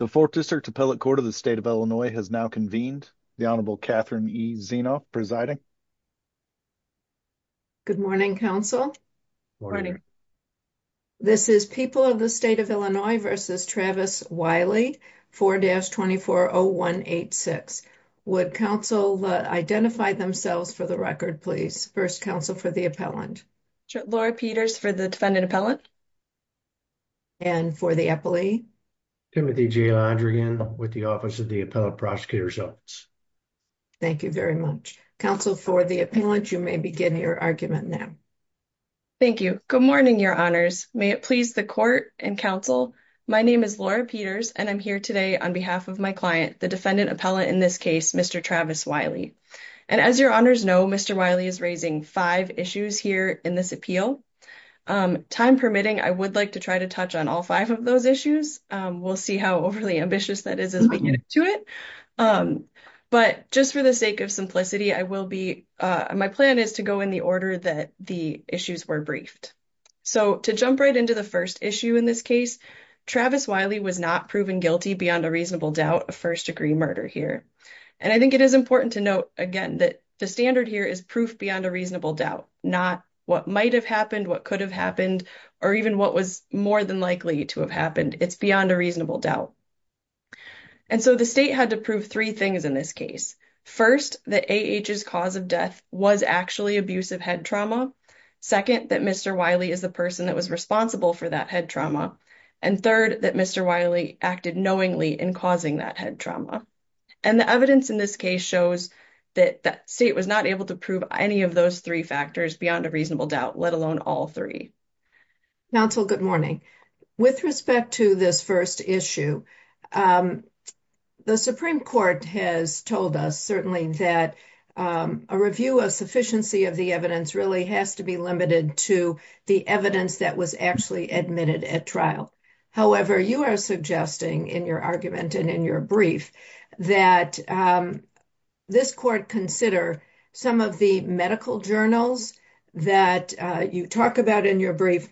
The 4th District Appellate Court of the State of Illinois has now convened. The Honorable Catherine E. Zienoff presiding. Good morning, counsel. This is People of the State of Illinois v. Travis Wiley, 4-240186. Would counsel identify themselves for the record, please? First, counsel, for the appellant. Laura Peters for the defendant appellant. Timothy J. Londrigan for the appellate prosecutor's office. Thank you very much. Counsel, for the appellant, you may begin your argument now. Thank you. Good morning, your honors. May it please the court and counsel. My name is Laura Peters, and I'm here today on behalf of my client, the defendant appellant in this case, Mr. Travis Wiley. And as your honors know, Mr. Wiley is raising five issues here in this appeal. Time permitting, I would like to try to touch on all five of those issues. We'll see how overly ambitious that is as we get to it. But just for the sake of simplicity, I will be, my plan is to go in the order that the issues were briefed. So to jump right into the first issue in this case, Travis Wiley was not proven guilty beyond a reasonable doubt of first degree murder here. And I think it is important to note, again, that the standard here is proof beyond a reasonable doubt, not what might have happened, what could have happened, or even what was more than likely to have happened. It's beyond a reasonable doubt. And so the state had to prove three things in this case. First, that A.H.'s cause of death was actually abusive head trauma. Second, that Mr. Wiley is the person that was responsible for that head trauma. And third, that Mr. Wiley acted knowingly in causing that head trauma. And the evidence in this case shows that the state was not able to prove any of those three factors beyond a reasonable doubt, let alone all three. Nancil, good morning. With respect to this first issue, the Supreme Court has told us certainly that a review of sufficiency of the evidence really has to be limited to the evidence that was actually admitted at trial. However, you are suggesting in your argument and in your brief that this court consider some of the medical journals that you talk about in your brief,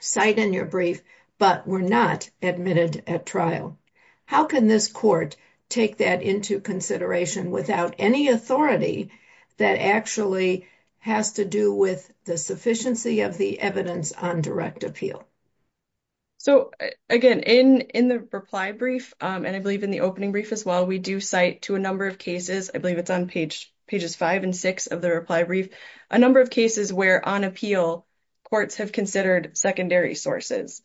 cite in your brief, but were not admitted at trial. How can this court take that into consideration without any authority that actually has to do with the sufficiency of the evidence on direct appeal? So, again, in the reply brief, and I believe in the opening brief as well, we do cite to a number of cases, I believe it's on pages five and six of the reply brief, a number of cases where on appeal courts have considered secondary sources.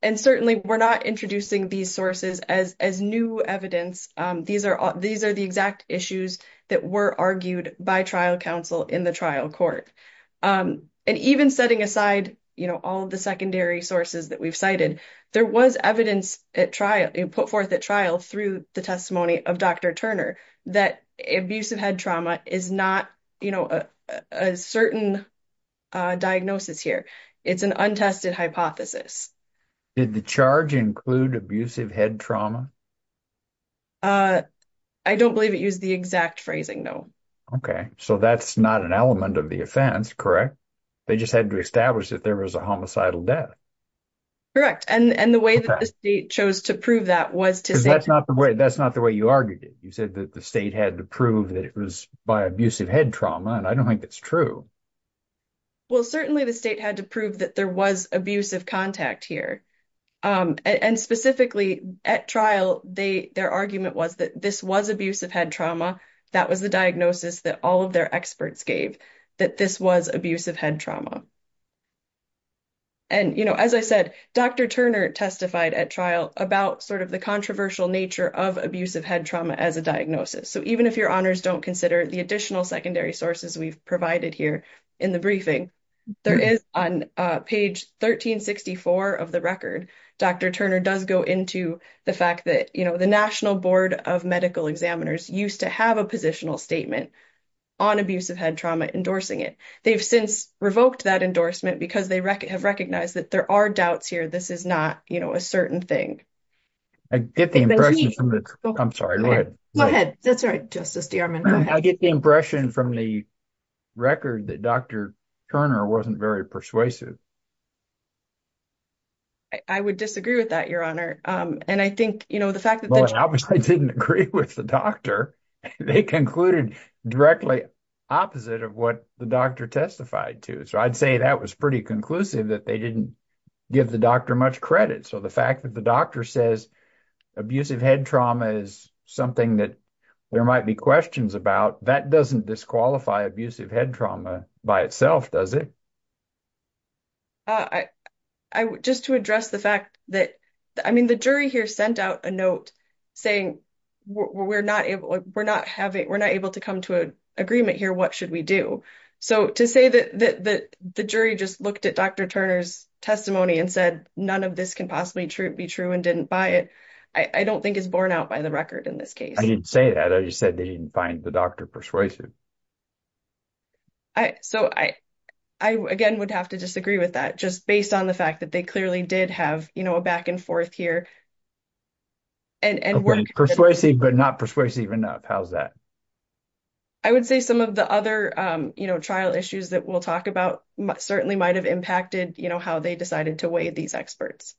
And certainly, we're not introducing these sources as new evidence. These are the exact issues that were argued by trial counsel in the trial court. And even setting aside all the secondary sources that we've cited, there was evidence put forth at trial through the testimony of Dr. Turner that abusive head trauma is not a certain diagnosis here. It's an untested hypothesis. Did the charge include abusive head trauma? I don't believe it used the exact phrasing, no. Okay. So that's not an element of the offense, correct? They just had to establish that there was a homicidal death. And the way that the state chose to prove that was to say- That's not the way you argued it. You said that the state had to prove that it was by abusive head trauma, and I don't think that's true. Well, certainly, the state had to prove that there was abusive contact here. And specifically, at trial, their argument was that this was abusive head trauma. That was the diagnosis that all of their experts gave, that this was abusive head trauma. And as I said, Dr. Turner testified at trial about the controversial nature of abusive head trauma as a diagnosis. So even if your honors don't consider the additional secondary sources we've provided here in the briefing, there is on page 1364 of the record, Dr. Turner does go into the fact that the National Board of Medical Examiners used to have a positional statement on abusive head trauma, endorsing it. They've since revoked that endorsement because they have recognized that there are doubts here. This is not a certain thing. I get the impression from the- I'm sorry, go ahead. Go ahead. That's all right, Justice DeArmond, go ahead. I get the impression from the record that Dr. Turner wasn't very persuasive. I would disagree with that, Your Honor. And I think the fact that- I didn't agree with the doctor. They concluded directly opposite of what the doctor testified to. So I'd say that was pretty conclusive that they didn't give the doctor much credit. So the fact that the doctor says abusive head trauma is something that there might be questions about, that doesn't disqualify abusive head trauma by itself, does it? I- just to address the fact that- I mean, the jury here sent out a note saying we're not able- we're not having- we're not able to come to an agreement here, what should we do? So to say that the jury just looked at Dr. Turner's testimony and said, none of this can possibly be true and didn't buy it, I don't think is borne out by the record in this case. I didn't say that. I just said they didn't find the doctor persuasive. I- so I- I again would have to disagree with that just based on the fact that they clearly did have, you know, a back and forth here and- Okay, persuasive but not persuasive enough. How's that? I would say some of the other, you know, trial issues that we'll talk about certainly might have impacted, you know, how they decided to weigh these experts.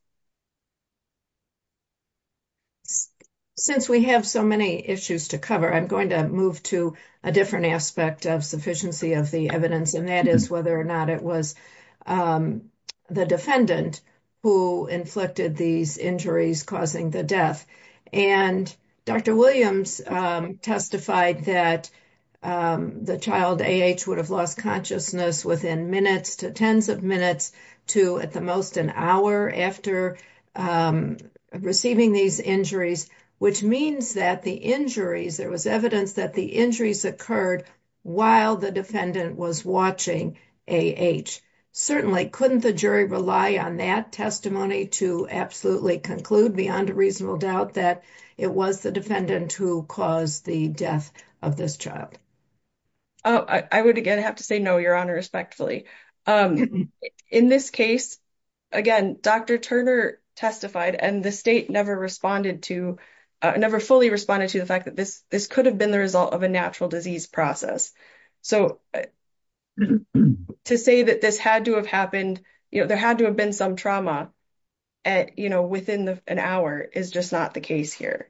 Since we have so many issues to cover, I'm going to move to a different topic. I'm going to move to a different aspect of sufficiency of the evidence, and that is whether or not it was the defendant who inflicted these injuries causing the death. And Dr. Williams testified that the child A.H. would have lost consciousness within minutes to tens of minutes to at the most an hour after receiving these injuries, which means that the injuries- there was evidence that the injuries occurred while the defendant was watching A.H. Certainly, couldn't the jury rely on that testimony to absolutely conclude beyond a reasonable doubt that it was the defendant who caused the death of this child? Oh, I would again have to say no, Your Honor, respectfully. In this case, again, Dr. Turner testified and the state never responded to- never fully responded to the fact that this could have been the result of a natural disease process. So, to say that this had to have happened, you know, there had to have been some trauma at, you know, within an hour is just not the case here.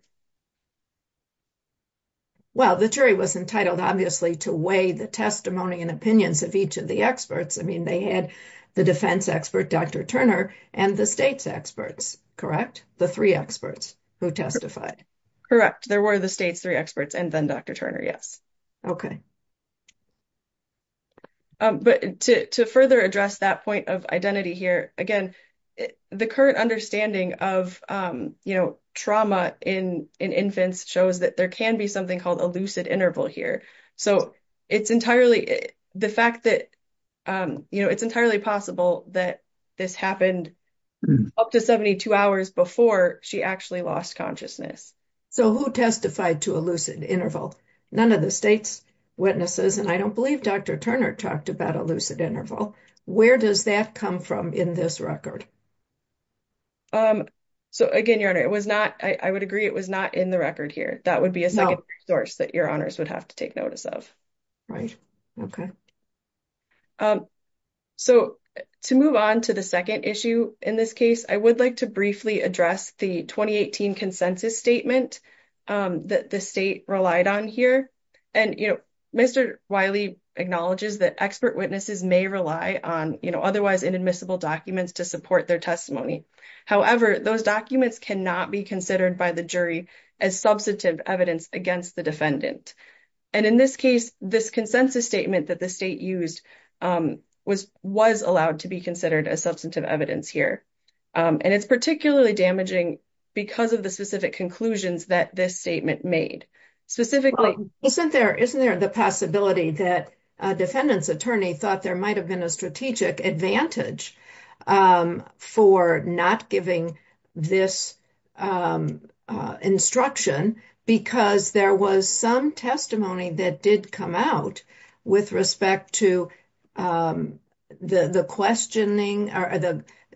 Well, the jury was entitled, obviously, to weigh the testimony and opinions of each of the experts. I mean, they had the defense expert, Dr. Turner, and the state's experts, correct? The three experts who testified. Correct. There were the state's three experts and then Dr. Turner, yes. But to further address that point of identity here, again, the current understanding of, you know, trauma in infants shows that there can be something called a lucid interval here. So, it's entirely the fact that, you know, it's entirely possible that this happened up to 72 hours before she actually lost consciousness. So, who testified to a lucid interval? None of the state's witnesses, and I don't believe Dr. Turner talked about a lucid interval. Where does that come from in this record? So, again, Your Honor, it was not- I would agree it was not in the record here. That would be a resource that Your Honors would have to take notice of. Right. Okay. So, to move on to the second issue in this case, I would like to briefly address the 2018 consensus statement that the state relied on here. And, you know, Mr. Wiley acknowledges that expert witnesses may rely on, you know, otherwise inadmissible documents to support their testimony. However, those documents cannot be considered by the jury as substantive evidence against the defendant. And in this case, this consensus statement that the state used was allowed to be considered as substantive evidence here. And it's particularly damaging because of the specific conclusions that this statement made. Specifically- Well, isn't there the possibility that a defendant's attorney thought there advantage for not giving this instruction because there was some testimony that did come out with respect to the questioning or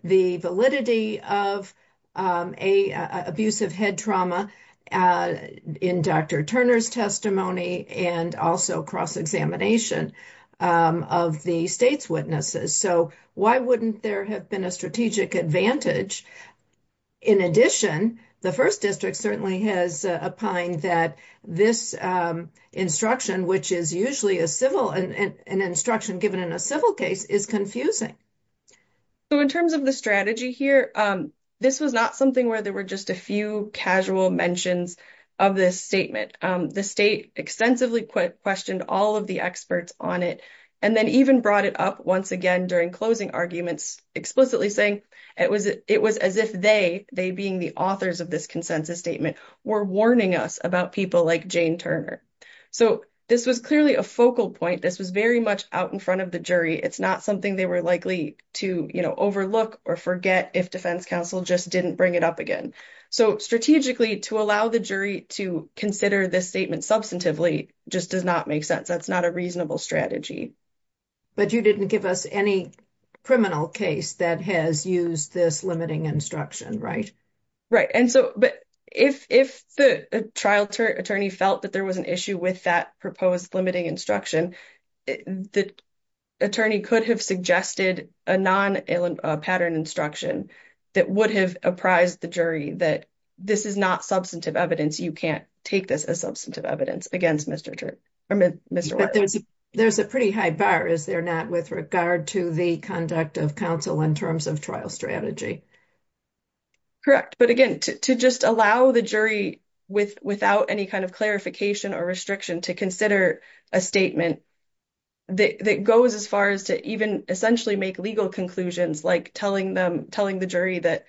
the validity of an abusive head trauma in Dr. Turner's testimony and also cross-examination of the state's witnesses? So, why wouldn't there have been a strategic advantage? In addition, the First District certainly has opined that this instruction, which is usually a civil- an instruction given in a civil case, is confusing. So, in terms of the strategy here, this was not something where there were just a few casual mentions of this statement. The state extensively questioned all of the experts on it and then even brought it up once again during closing arguments, explicitly saying it was as if they, they being the authors of this consensus statement, were warning us about people like Jane Turner. So, this was clearly a focal point. This was very much out in front of the jury. It's not something they were likely to, you know, overlook or forget if defense counsel just didn't bring it up again. So, strategically, to allow the jury to consider this statement substantively just does not make sense. That's not a reasonable strategy. But you didn't give us any criminal case that has used this limiting instruction, right? Right. And so, but if the trial attorney felt that there was an issue with that proposed limiting instruction, the attorney could have suggested a non-pattern instruction that would have apprised the jury that this is not substantive evidence. You can't take this as substantive evidence against Mr. Turner or Mr. White. But there's a pretty high bar, is there not, with regard to the conduct of counsel in terms of trial strategy? Correct. But again, to just allow the jury without any kind of clarification or restriction to consider a statement that goes as far as to even essentially make legal conclusions like telling the jury that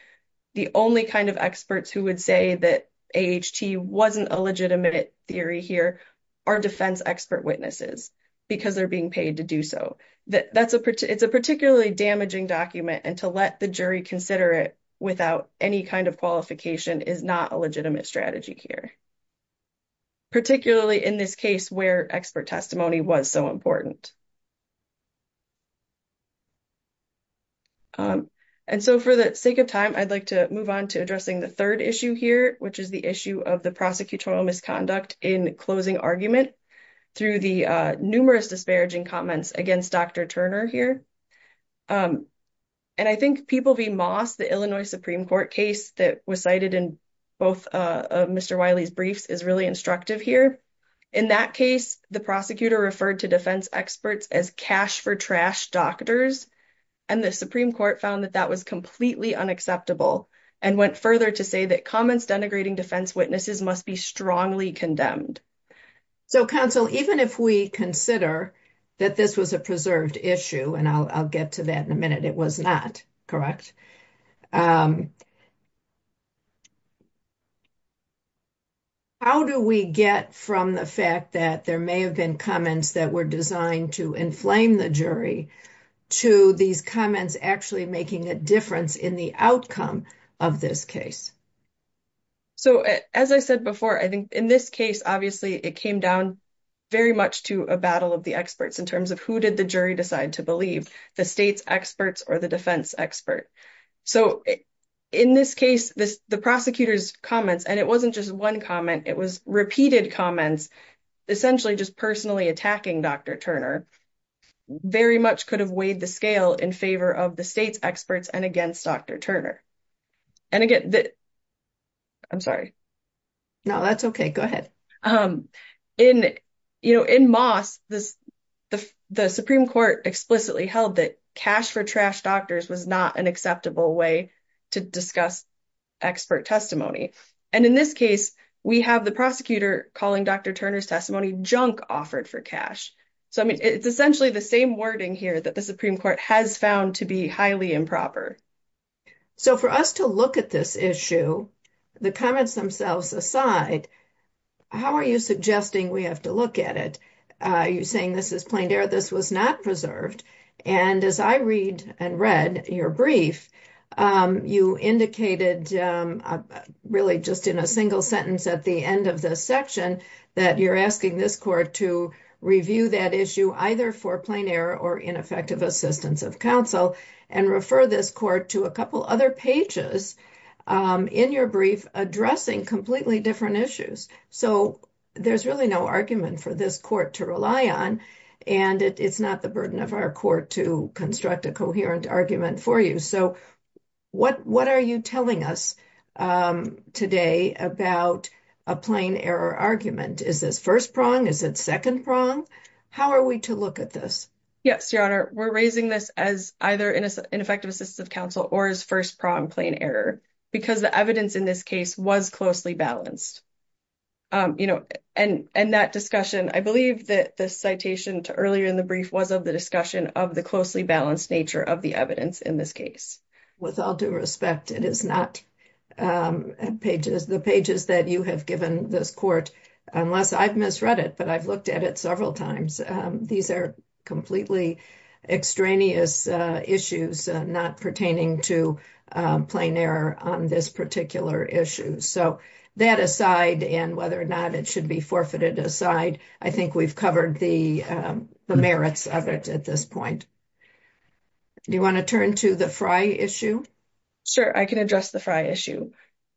the only kind of experts who would say that A.H.T. wasn't a legitimate theory here are defense expert witnesses because they're being paid to do so. It's a particularly damaging document, and to let the jury consider it without any kind of qualification is not a legitimate strategy here, particularly in this case where expert testimony was so important. And so, for the sake of time, I'd like to move on to addressing the third issue here, which is the issue of the prosecutorial misconduct in closing argument through the numerous disparaging comments against Dr. Turner here. And I think People v. Moss, the Illinois Supreme Court case that was cited in both of Mr. Wiley's briefs, is really instructive here. In that case, the prosecutor referred to defense experts as cash-for-trash doctors, and the Supreme Court found that that was completely unacceptable and went further to say that comments denigrating defense witnesses must be strongly condemned. So, counsel, even if we consider that this was a preserved issue, and I'll get to that in a minute, it was not, correct? How do we get from the fact that there may have been comments that were designed to inflame the jury to these comments actually making a difference in the outcome of this case? So, as I said before, I think in this case, obviously, it came down very much to a battle of the experts in terms of who did the jury decide to believe, the state's experts or the defense expert. So, in this case, the prosecutor's comments, and it wasn't just one comment, it was repeated comments, essentially just personally attacking Dr. Turner, very much could have weighed the scale in favor of the state's experts and against Dr. Turner. And again, I'm sorry. No, that's okay. Go ahead. In Moss, the Supreme Court explicitly held that cash for trash doctors was not an acceptable way to discuss expert testimony. And in this case, we have the prosecutor calling Dr. Turner's testimony junk offered for cash. So, I mean, it's essentially the same wording here that the Supreme Court has found to be highly improper. So, for us to look at this issue, the comments themselves aside, how are you suggesting we have to look at it? Are you saying this is plain error? This was not preserved. And as I read and read your brief, you indicated really just in a single sentence at the end of the section that you're asking this court to review that issue either for plain error or ineffective assistance of counsel and refer this court to a couple other pages in your brief addressing completely different issues. So, there's really no argument for this court to rely on and it's not the burden of our court to construct a coherent argument for you. So, what are you telling us today about a plain error argument? Is this first prong? Is it second prong? How are we to look at this? Yes, Your Honor. We're raising this as either ineffective assistance of counsel or as first prong plain error because the evidence in this case was closely balanced. And that discussion, I believe that the citation to earlier in the brief was of the discussion of the closely balanced nature of the evidence in this case. With all due respect, it is not the pages that you have given this court, unless I've misread it, but I've not. So, that aside and whether or not it should be forfeited aside, I think we've covered the merits of it at this point. Do you want to turn to the Frye issue? Sure. I can address the Frye issue.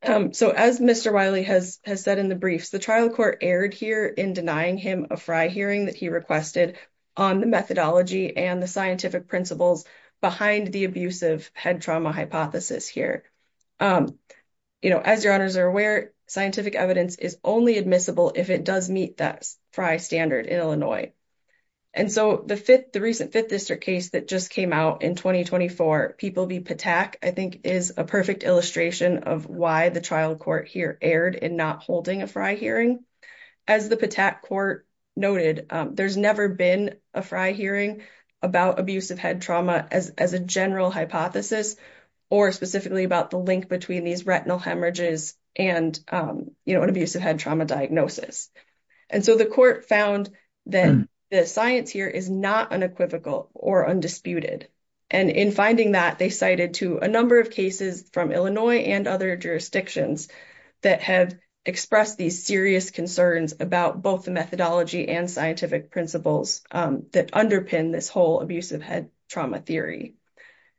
So, as Mr. Wiley has said in the briefs, the trial court erred here in denying him a Frye hearing that he requested on the methodology and the scientific principles behind the abusive head trauma hypothesis here. As Your Honors are aware, scientific evidence is only admissible if it does meet that Frye standard in Illinois. And so, the recent Fifth District case that just came out in 2024, People v. Patak, I think is a perfect illustration of why the trial court here erred in not holding a Frye hearing. As the Patak court noted, there's never been a Frye hearing about abusive head trauma as a general hypothesis or specifically about the link between these retinal hemorrhages and an abusive head trauma diagnosis. And so, the court found that the science here is not unequivocal or undisputed. And in finding that, they cited to a number of cases from Illinois and other jurisdictions that have expressed these serious concerns about both the methodology and scientific principles that underpin this whole abusive head trauma theory.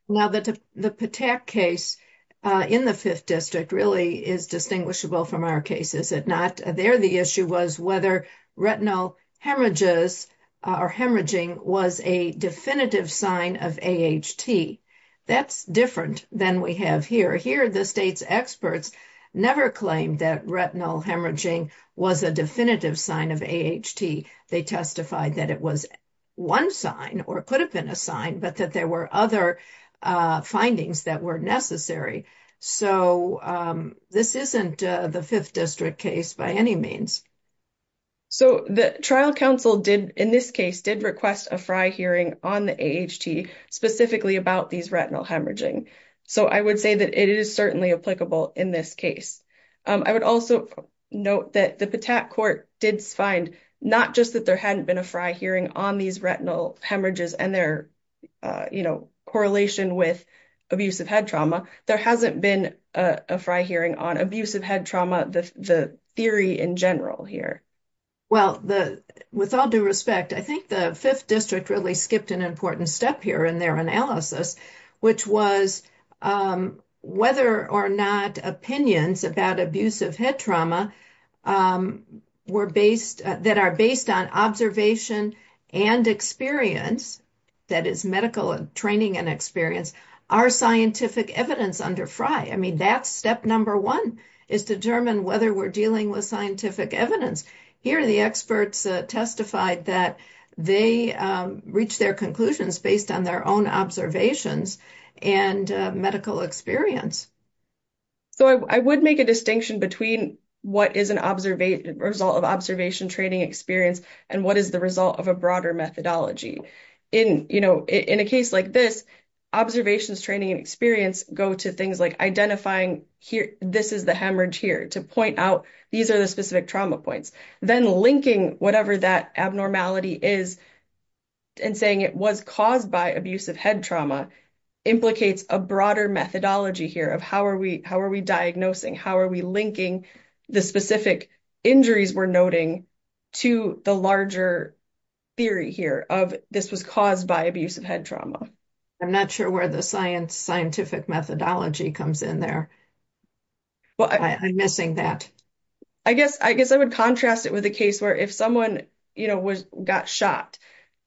Now, the Patak case in the Fifth District really is distinguishable from our case, is it not? There, the issue was whether retinal hemorrhages or hemorrhaging was a definitive sign of AHT. That's different than we have here. Here, the state's experts never claimed that retinal hemorrhaging was a definitive sign of AHT. They testified that it was one sign or could have been a sign, but that there were other findings that were necessary. So, this isn't the Fifth District case by any means. So, the trial counsel did, in this case, did request a Frye hearing on the AHT specifically about these retinal hemorrhaging. So, I would say that it is certainly applicable in this case. I would also note that the Patak court did find not just that there hadn't been a Frye hearing on these retinal hemorrhages and their correlation with abusive head trauma, there hasn't been a Frye hearing on abusive head trauma, the theory in general here. Well, with all due respect, I think the Fifth District really skipped an important step here in their analysis, which was whether or not opinions about abusive head trauma that are based on observation and experience, that is medical training and experience, are scientific evidence under Frye. I mean, that's step number one, is determine whether we're dealing with scientific evidence. Here, the experts testified that they reached their based on their own observations and medical experience. So, I would make a distinction between what is a result of observation, training, experience, and what is the result of a broader methodology. In a case like this, observations, training, and experience go to things like identifying this is the hemorrhage here to point out these are the specific trauma points, then linking whatever that abnormality is and saying it was caused by abusive head trauma implicates a broader methodology here of how are we diagnosing, how are we linking the specific injuries we're noting to the larger theory here of this was caused by abusive head trauma. I'm not sure where the scientific methodology comes in there. I'm missing that. I guess I would contrast it with a case where if someone got shot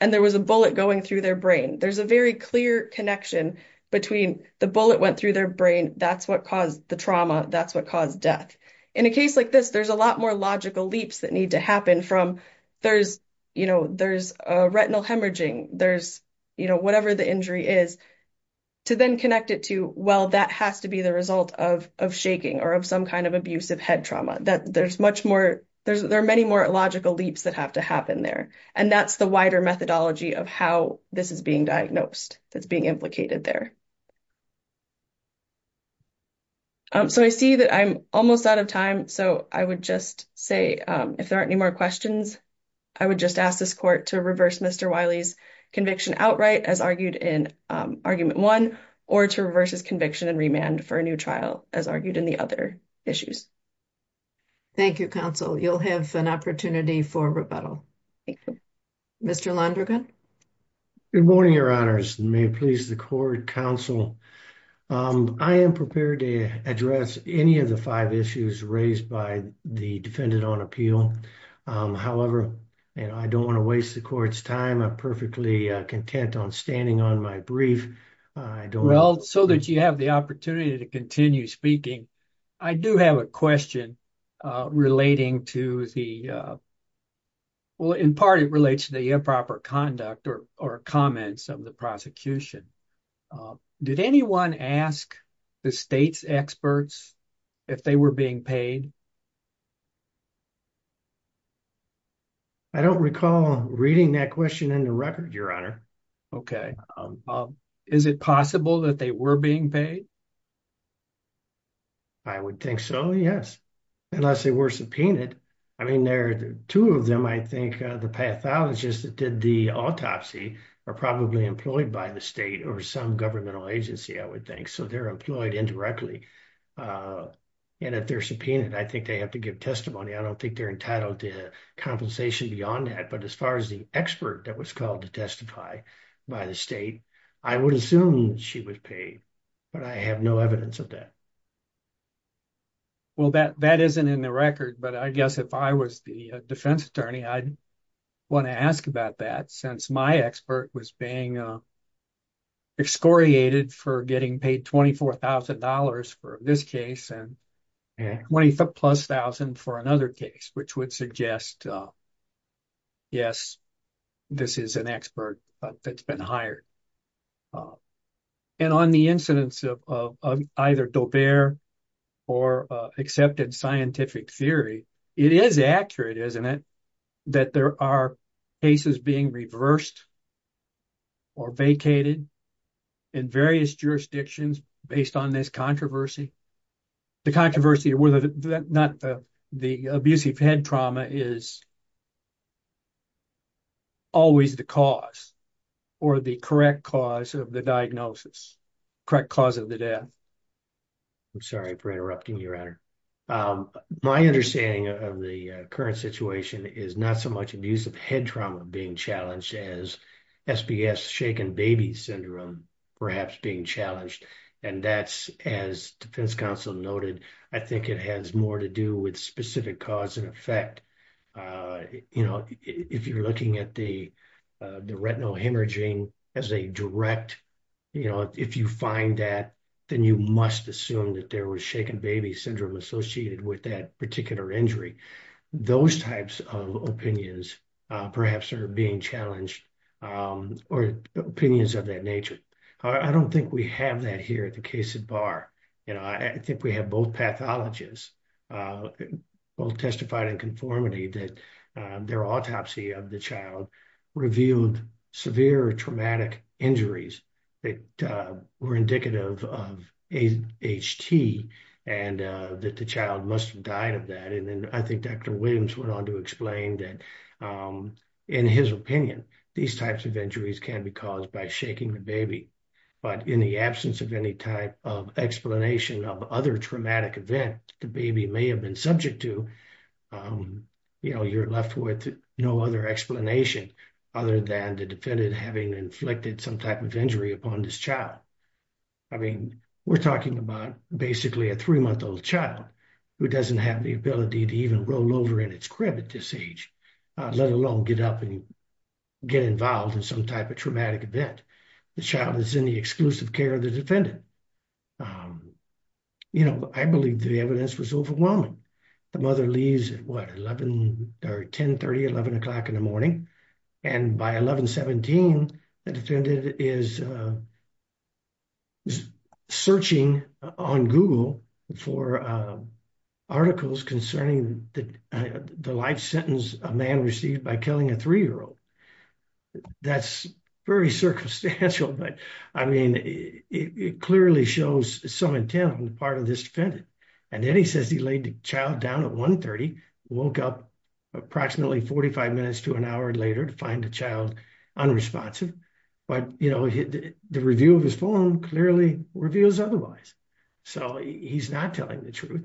and there was a bullet going through their brain, there's a very clear connection between the bullet went through their brain, that's what caused the trauma, that's what caused death. In a case like this, there's a lot more logical leaps that need to happen from there's a retinal hemorrhaging, there's whatever the injury is, to then connect it to, well, that has to be the result of shaking or of some kind of abusive head trauma. There's much more, there are many more logical leaps that have to happen there, and that's the wider methodology of how this is being diagnosed, that's being implicated there. So I see that I'm almost out of time, so I would just say if there aren't any more questions, I would just ask this court to reverse Mr. Wiley's conviction outright as argued in argument one or to reverse his conviction and remand for a new trial as argued in the other issues. Thank you, counsel. You'll have an opportunity for rebuttal. Thank you. Mr. Londrigan. Good morning, your honors, and may it please the court, counsel. I am prepared to address any of the five issues raised by the defendant on appeal. However, I don't want to waste the court's time. I'm perfectly content on standing on my brief. Well, so that you have the opportunity to continue speaking. I do have a question relating to the, well, in part it relates to the improper conduct or comments of the prosecution. Did anyone ask the state's experts if they were being paid? I don't recall reading that question in the record, your honor. Okay. Is it possible that they were being paid? I would think so, yes, unless they were subpoenaed. I mean, there are two of them. I think the pathologist that did the autopsy are probably employed by the state or some governmental agency, I would think, so they're employed indirectly. And if they're subpoenaed, I think they have to give testimony. I don't think they're entitled to compensation beyond that, but as far as the expert that was called to testify by the state, I would assume she was paid, but I have no evidence of that. Well, that isn't in the record, but I guess if I was the defense attorney, I'd want to ask about that since my expert was being excoriated for getting paid $24,000 for this case and plus thousand for another case, which would suggest, yes, this is an expert that's been hired. And on the incidence of either Daubert or accepted scientific theory, it is accurate, isn't it, that there are cases being reversed or vacated in various jurisdictions based on this controversy? The controversy of whether or not the abusive head trauma is always the cause or the correct cause of the diagnosis, correct cause of the death. I'm sorry for interrupting, Your Honor. My understanding of the current situation is not so much abusive head trauma being challenged as SPS, shaken baby syndrome, perhaps being challenged. And that's, as defense counsel noted, I think it has more to do with specific cause and effect. If you're looking at the retinal hemorrhaging as a direct, if you find that, then you must assume that there was shaken baby syndrome associated with that particular injury. Those types of opinions perhaps are being challenged or opinions of that nature. I don't think we have that here at the case at bar. I think we have both pathologists, both testified in conformity that their autopsy of the child revealed severe traumatic injuries that were indicative of HT and that the child must have died of that. And then I think Dr. Williams went on to explain that in his opinion, these types of injuries can be caused by shaking the baby. But in the absence of any type of explanation of other traumatic event, the baby may have been subject to, you're left with no other explanation other than the defendant having inflicted some type of injury upon this child. I mean, we're talking about basically a three-month old child who doesn't have the ability to even roll over in its crib at this age, let alone get up and get involved in some type of traumatic event. The child is in the exclusive care of the defendant. You know, I believe the evidence was overwhelming. The mother leaves at what, 11 or 1030, 11 o'clock in the morning. And by 1117, the defendant is searching on Google for articles concerning the life sentence a man received by killing a three-year-old. That's very circumstantial, but I mean, it clearly shows some intent on the part of this defendant. And then he says he laid the child down at 130, woke up approximately 45 minutes to an hour later to find the child unresponsive. But, you know, the review of his form clearly reveals otherwise. So he's not telling the truth.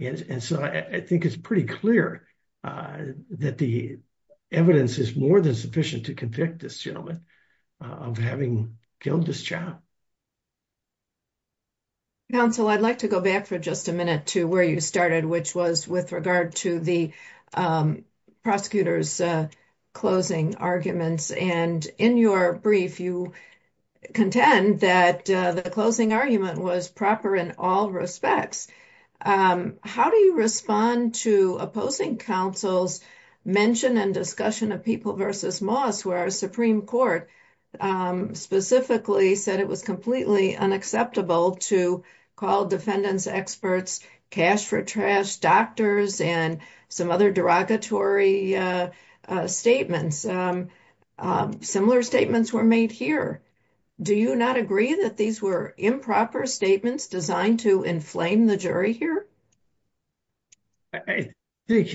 And so I think it's pretty clear that the evidence is more than sufficient to convict this gentleman of having killed this child. Counsel, I'd like to go back for just a minute to where you started, which was with regard to the prosecutor's closing arguments. And in your brief, you contend that the closing argument was proper in all respects. How do you respond to opposing counsel's mention and discussion of People v. Moss, where a Supreme Court specifically said it was completely unacceptable to call defendants experts, cash for trash, doctors, and some other derogatory statements? Similar statements were made here. Do you not agree that these were improper statements designed to inflame the jury here? I think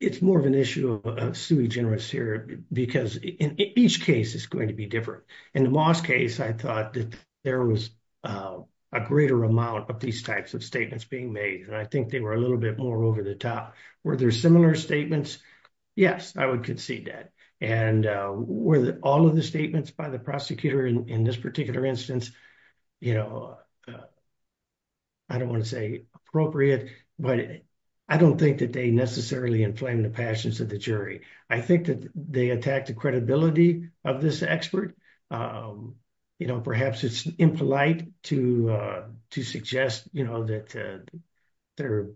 it's more of an issue of sui generis here because in each case it's going to be different. In the Moss case, I thought that there was a greater amount of these types of statements being made. And I think they were a little bit more over the top. Were there similar statements? Yes, I would concede that. And were all of the statements by the prosecutor in this particular instance, I don't want to say appropriate, but I don't think that they necessarily inflamed the passions of the jury. I think that they attacked the credibility of this expert. Perhaps it's impolite to suggest that they're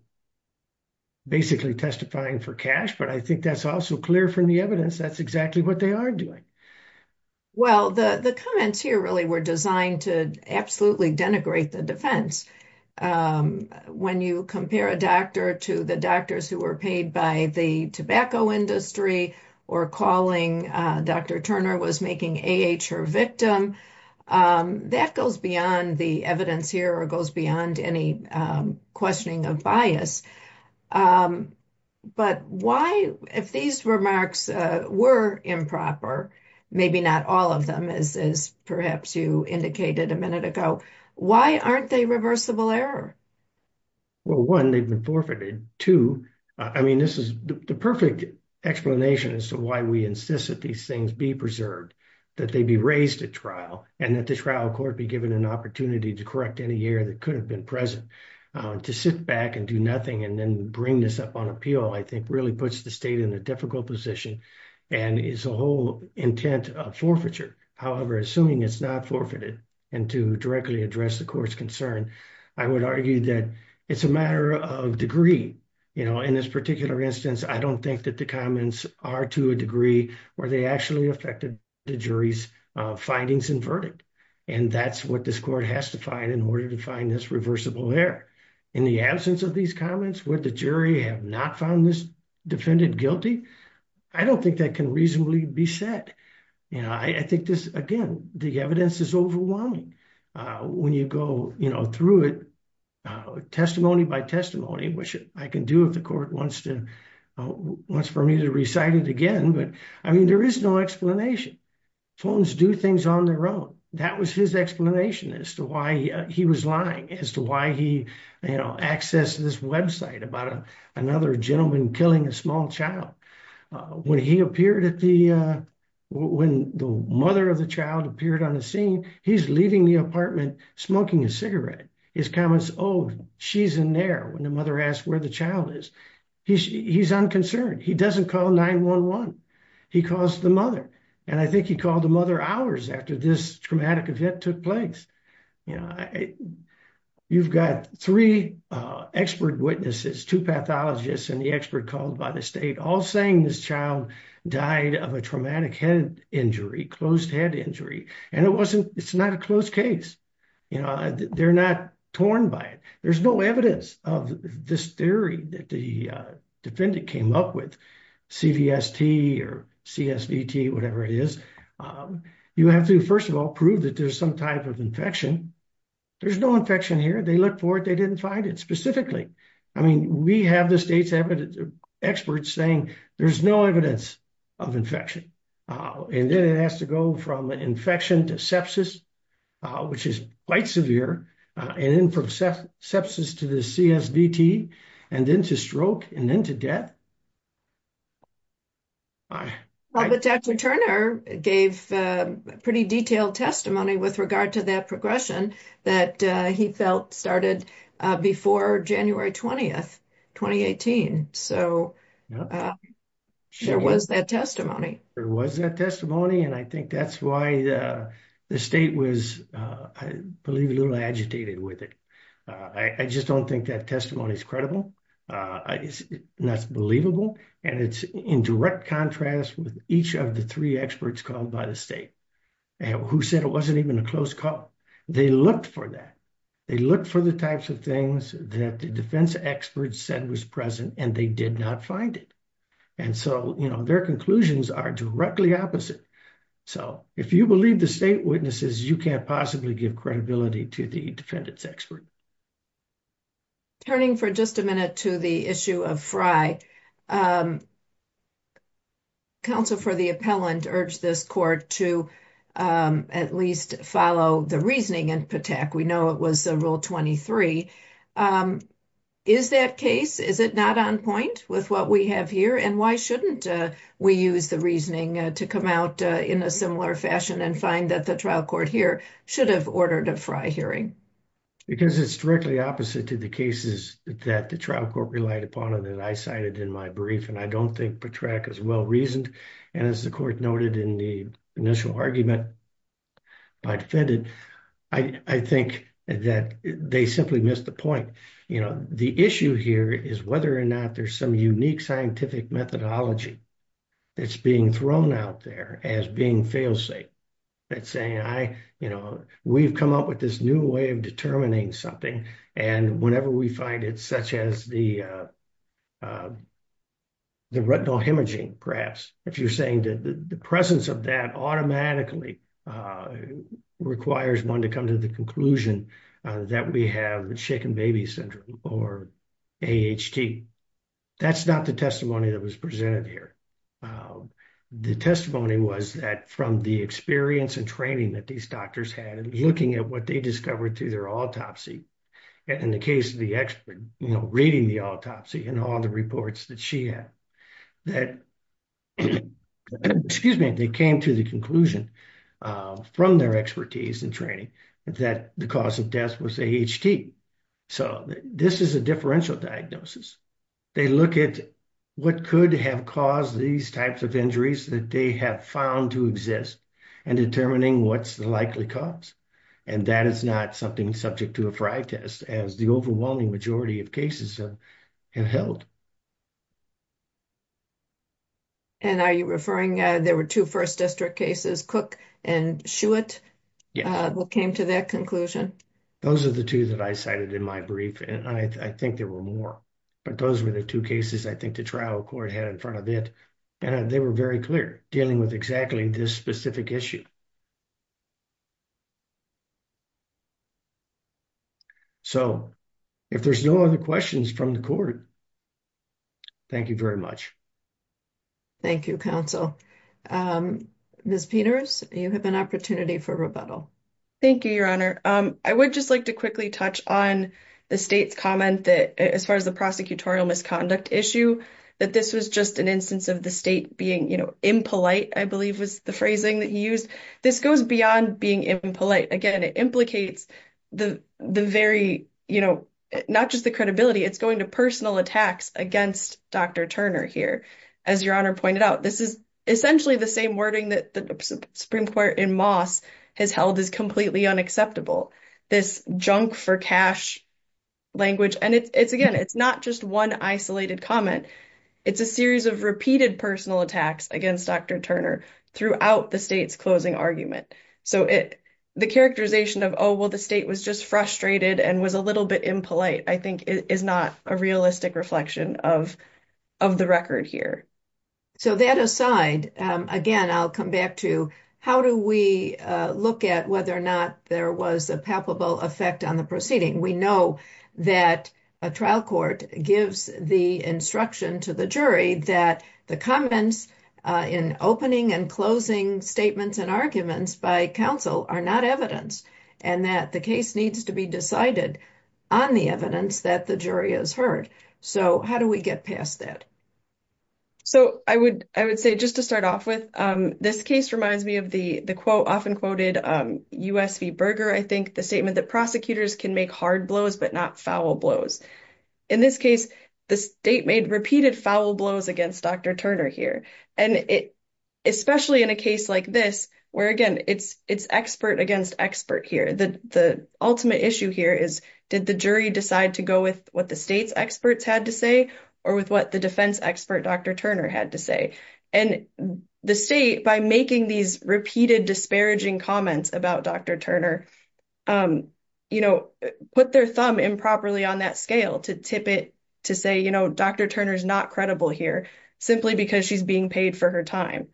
basically testifying for cash, but I think that's also clear from the evidence. That's exactly what they are doing. Well, the comments here really were designed to absolutely denigrate the defense. When you compare a doctor to the doctors who were paid by the tobacco industry or calling Dr. Turner was making A.H. her victim, that goes beyond the evidence here or goes beyond any questioning of bias. But why, if these remarks were improper, maybe not all of them as perhaps you indicated a minute ago, why aren't they reversible error? Well, one, they've been forfeited. Two, I mean, this is the perfect explanation as to why we insist that these things be preserved, that they be raised at trial and that the trial court be given an opportunity to correct any error that could have been present. To sit back and do nothing and then bring this up on appeal, I think, really puts the state in a difficult position and is a whole intent of forfeiture. However, assuming it's not forfeited and to directly address the court's concern, I would argue that it's a matter of degree. In this particular instance, I don't think that the comments are to a degree where they actually affected the jury's findings and verdict. And that's what this court has to find in order to find this reversible error. In the absence of these comments, would the jury have not found this defendant guilty? I don't think that can reasonably be said. I think this, again, the evidence is overwhelming when you go through it testimony by testimony, which I can do if the court wants for me to recite it again. But, I mean, there is no explanation. Phones do things on their own. That was his explanation as to why he was lying, as to why he, you know, accessed this website about another gentleman killing a small child. When he appeared at the, when the mother of the child appeared on the scene, he's leaving the apartment smoking a cigarette. His comments, oh, she's in there when the mother asked where the child is. He's unconcerned. He doesn't call 911. He calls the mother. And I think he called the mother hours after this traumatic event took place. You know, you've got three expert witnesses, two pathologists and the expert called by the state, all saying this child died of a traumatic head injury, closed head injury. And it wasn't, it's not a closed case. You know, they're not torn by it. There's no evidence of this theory that the defendant came up with, CVST or CSVT, whatever it is. You have to, first of all, prove that there's some type of infection. There's no infection here. They looked for it. They didn't find it specifically. I mean, we have the state's experts saying there's no evidence of infection. And then it has to go from infection to sepsis, which is quite severe, and then from sepsis to the CSVT, and then to stroke, and then to death. But Dr. Turner gave pretty detailed testimony with regard to that progression that he felt started before January 20th, 2018. So there was that testimony. There was that testimony. And I think that's why the state was, I believe, a little agitated with it. I just don't think that testimony is credible. It's not believable. And it's in direct contrast with each of the three experts called by the state who said it wasn't even a close call. They looked for that. They looked for the types of things that the defense experts said was present, and they did not find it. And so their conclusions are directly opposite. So if you believe the state witnesses, you can't possibly give credibility to the defendants expert. Turning for just a minute to the issue of Frye, counsel for the appellant urged this court to at least follow the reasoning in Patak. We know it was Rule 23. Is that case, is it not on point with what we have here? And why shouldn't we use the reasoning to come out in a similar fashion and find that the trial court here should have ordered a Frye hearing? Because it's directly opposite to the cases that the trial court relied upon and that I cited in my brief. And I don't think Patak is well-reasoned. And as the court noted in the initial argument by defendant, I think that they simply missed the point. You know, the issue here is whether or not there's some unique scientific methodology that's being thrown out there as being failsafe. That's saying I, you know, we've come up with this new way of determining something. And whenever we find it, such as the retinal hemorrhaging, perhaps, if you're saying that the presence of that automatically requires one to come to the conclusion that we have shaken baby syndrome or AHT. That's not the testimony that was presented here. The testimony was that from the experience and training that these doctors had and looking at what they discovered through their autopsy, in the case of the expert, you know, reading the autopsy and all the reports that she had, that, excuse me, they came to the conclusion from their expertise and training that the cause of death was AHT. So this is a differential diagnosis. They look at what could have caused these types of injuries that they have found to exist and determining what's the likely cause. And that is not something subject to a fry test as the overwhelming majority of cases have held. And are you referring, there were two first district cases, Cook and Shewitt, what came to that conclusion? Those are the two that I cited in my brief. And I think there were more, but those were the two cases I think the trial court had in front of it. And they were very clear dealing with exactly this specific issue. So if there's no other questions from the court, thank you very much. Thank you, counsel. Ms. Peters, you have an opportunity for rebuttal. Thank you, your honor. I would just like to quickly touch on the state's comment that as the prosecutorial misconduct issue, that this was just an instance of the state being impolite, I believe was the phrasing that he used. This goes beyond being impolite. Again, it implicates the very, not just the credibility, it's going to personal attacks against Dr. Turner here. As your honor pointed out, this is essentially the same wording that the Supreme Court in Moss has held as completely unacceptable. This junk for cash language. And again, it's not just one isolated comment. It's a series of repeated personal attacks against Dr. Turner throughout the state's closing argument. So the characterization of, oh, well, the state was just frustrated and was a little bit impolite, I think is not a realistic reflection of the record here. So that aside, again, I'll come back to how do we look at whether or not there was a palpable effect on the proceeding. We know that a trial court gives the instruction to the jury that the comments in opening and closing statements and arguments by counsel are not evidence and that the case needs to be decided on the evidence that the jury has heard. So how do we get past that? So I would say just to start off with, this case reminds me of the quote, often quoted, U.S. v. Berger, I think, the statement that prosecutors can make hard blows, but not foul blows. In this case, the state made repeated foul blows against Dr. Turner here. And especially in a case like this, where again, it's expert against expert here. The ultimate issue here is did the decide to go with what the state's experts had to say, or with what the defense expert Dr. Turner had to say. And the state, by making these repeated disparaging comments about Dr. Turner, you know, put their thumb improperly on that scale to tip it to say, you know, Dr. Turner is not credible here, simply because she's being paid for her time.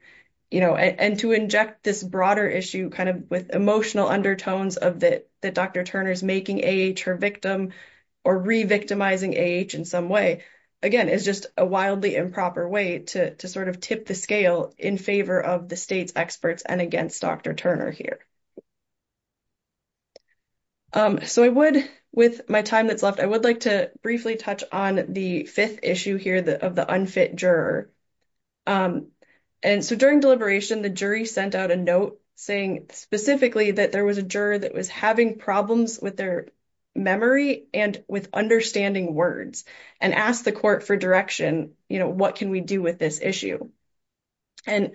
You know, and to inject this broader issue kind of with emotional undertones of that Dr. Turner's making A.H. her victim, or re-victimizing A.H. in some way, again, is just a wildly improper way to sort of tip the scale in favor of the state's experts and against Dr. Turner here. So I would, with my time that's left, I would like to briefly touch on the fifth issue here of the unfit juror. And so during deliberation, the jury sent out a note saying specifically that there was a juror that was having problems with their memory and with understanding words, and asked the court for direction, you know, what can we do with this issue. And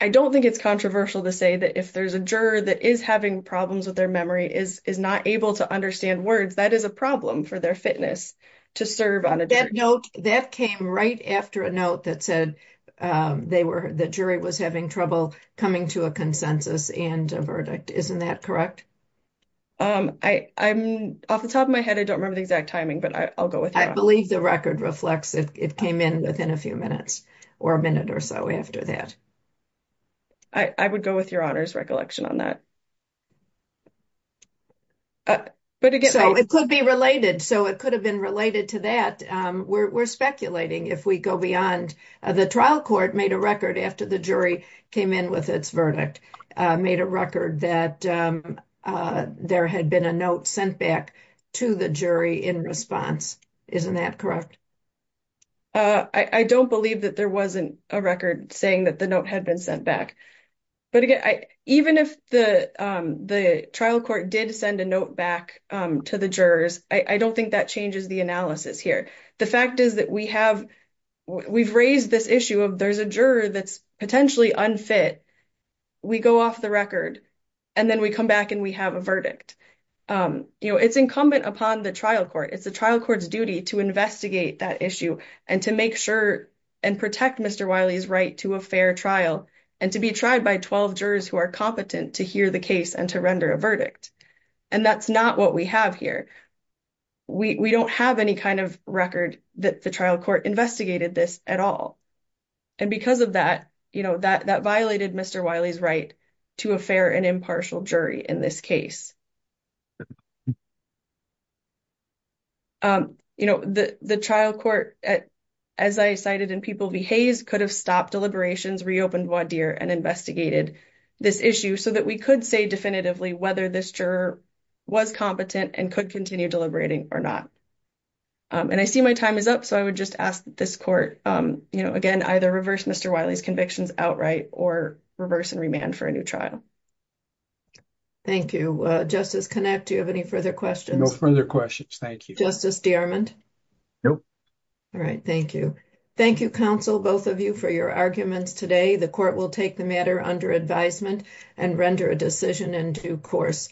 I don't think it's controversial to say that if there's a juror that is having problems with their memory, is not able to understand words, that is a problem for their fitness to serve on a jury. That note, that came right after a note that said they were, the jury was having trouble coming to a consensus and a verdict. Isn't that correct? I'm, off the top of my head, I don't remember the exact timing, but I'll go with that. I believe the record reflects it came in within a few minutes, or a minute or so after that. I would go with your honor's recollection on that. But again, so it could be related. So it could have been related to that. We're speculating. If we go beyond, the trial court made a record after the jury came in with its verdict, made a record that there had been a note sent back to the jury in response. Isn't that correct? I don't believe that there wasn't a record saying that the note had been sent back. But again, even if the trial court did send a note back to the jurors, I don't think that changes the analysis here. The fact is that we have, we've raised this issue of there's a juror that's potentially unfit. We go off the record, and then we come back and we have a verdict. It's incumbent upon the trial court. It's the trial court's duty to investigate that issue and to make sure and protect Mr. Wiley's right to a fair trial and to be tried by 12 jurors who are competent to hear the case and to render a verdict. That's not what we have here. We don't have any kind of record that the trial court investigated this at all. Because of that, that violated Mr. Wiley's right to a fair and impartial jury in this case. You know, the trial court, as I cited in People v. Hayes, could have stopped deliberations, reopened voir dire, and investigated this issue so that we could say definitively whether this juror was competent and could continue deliberating or not. And I see my time is up, so I would just ask this court, you know, again, either reverse Mr. Wiley's convictions outright or reverse and remand for a new trial. Thank you. Justice Connacht, do you have any further questions? No further questions. Thank you. Justice Dearmond? Nope. All right. Thank you. Thank you, counsel, both of you, for your arguments today. The court will take the matter under advisement and render a decision in due course.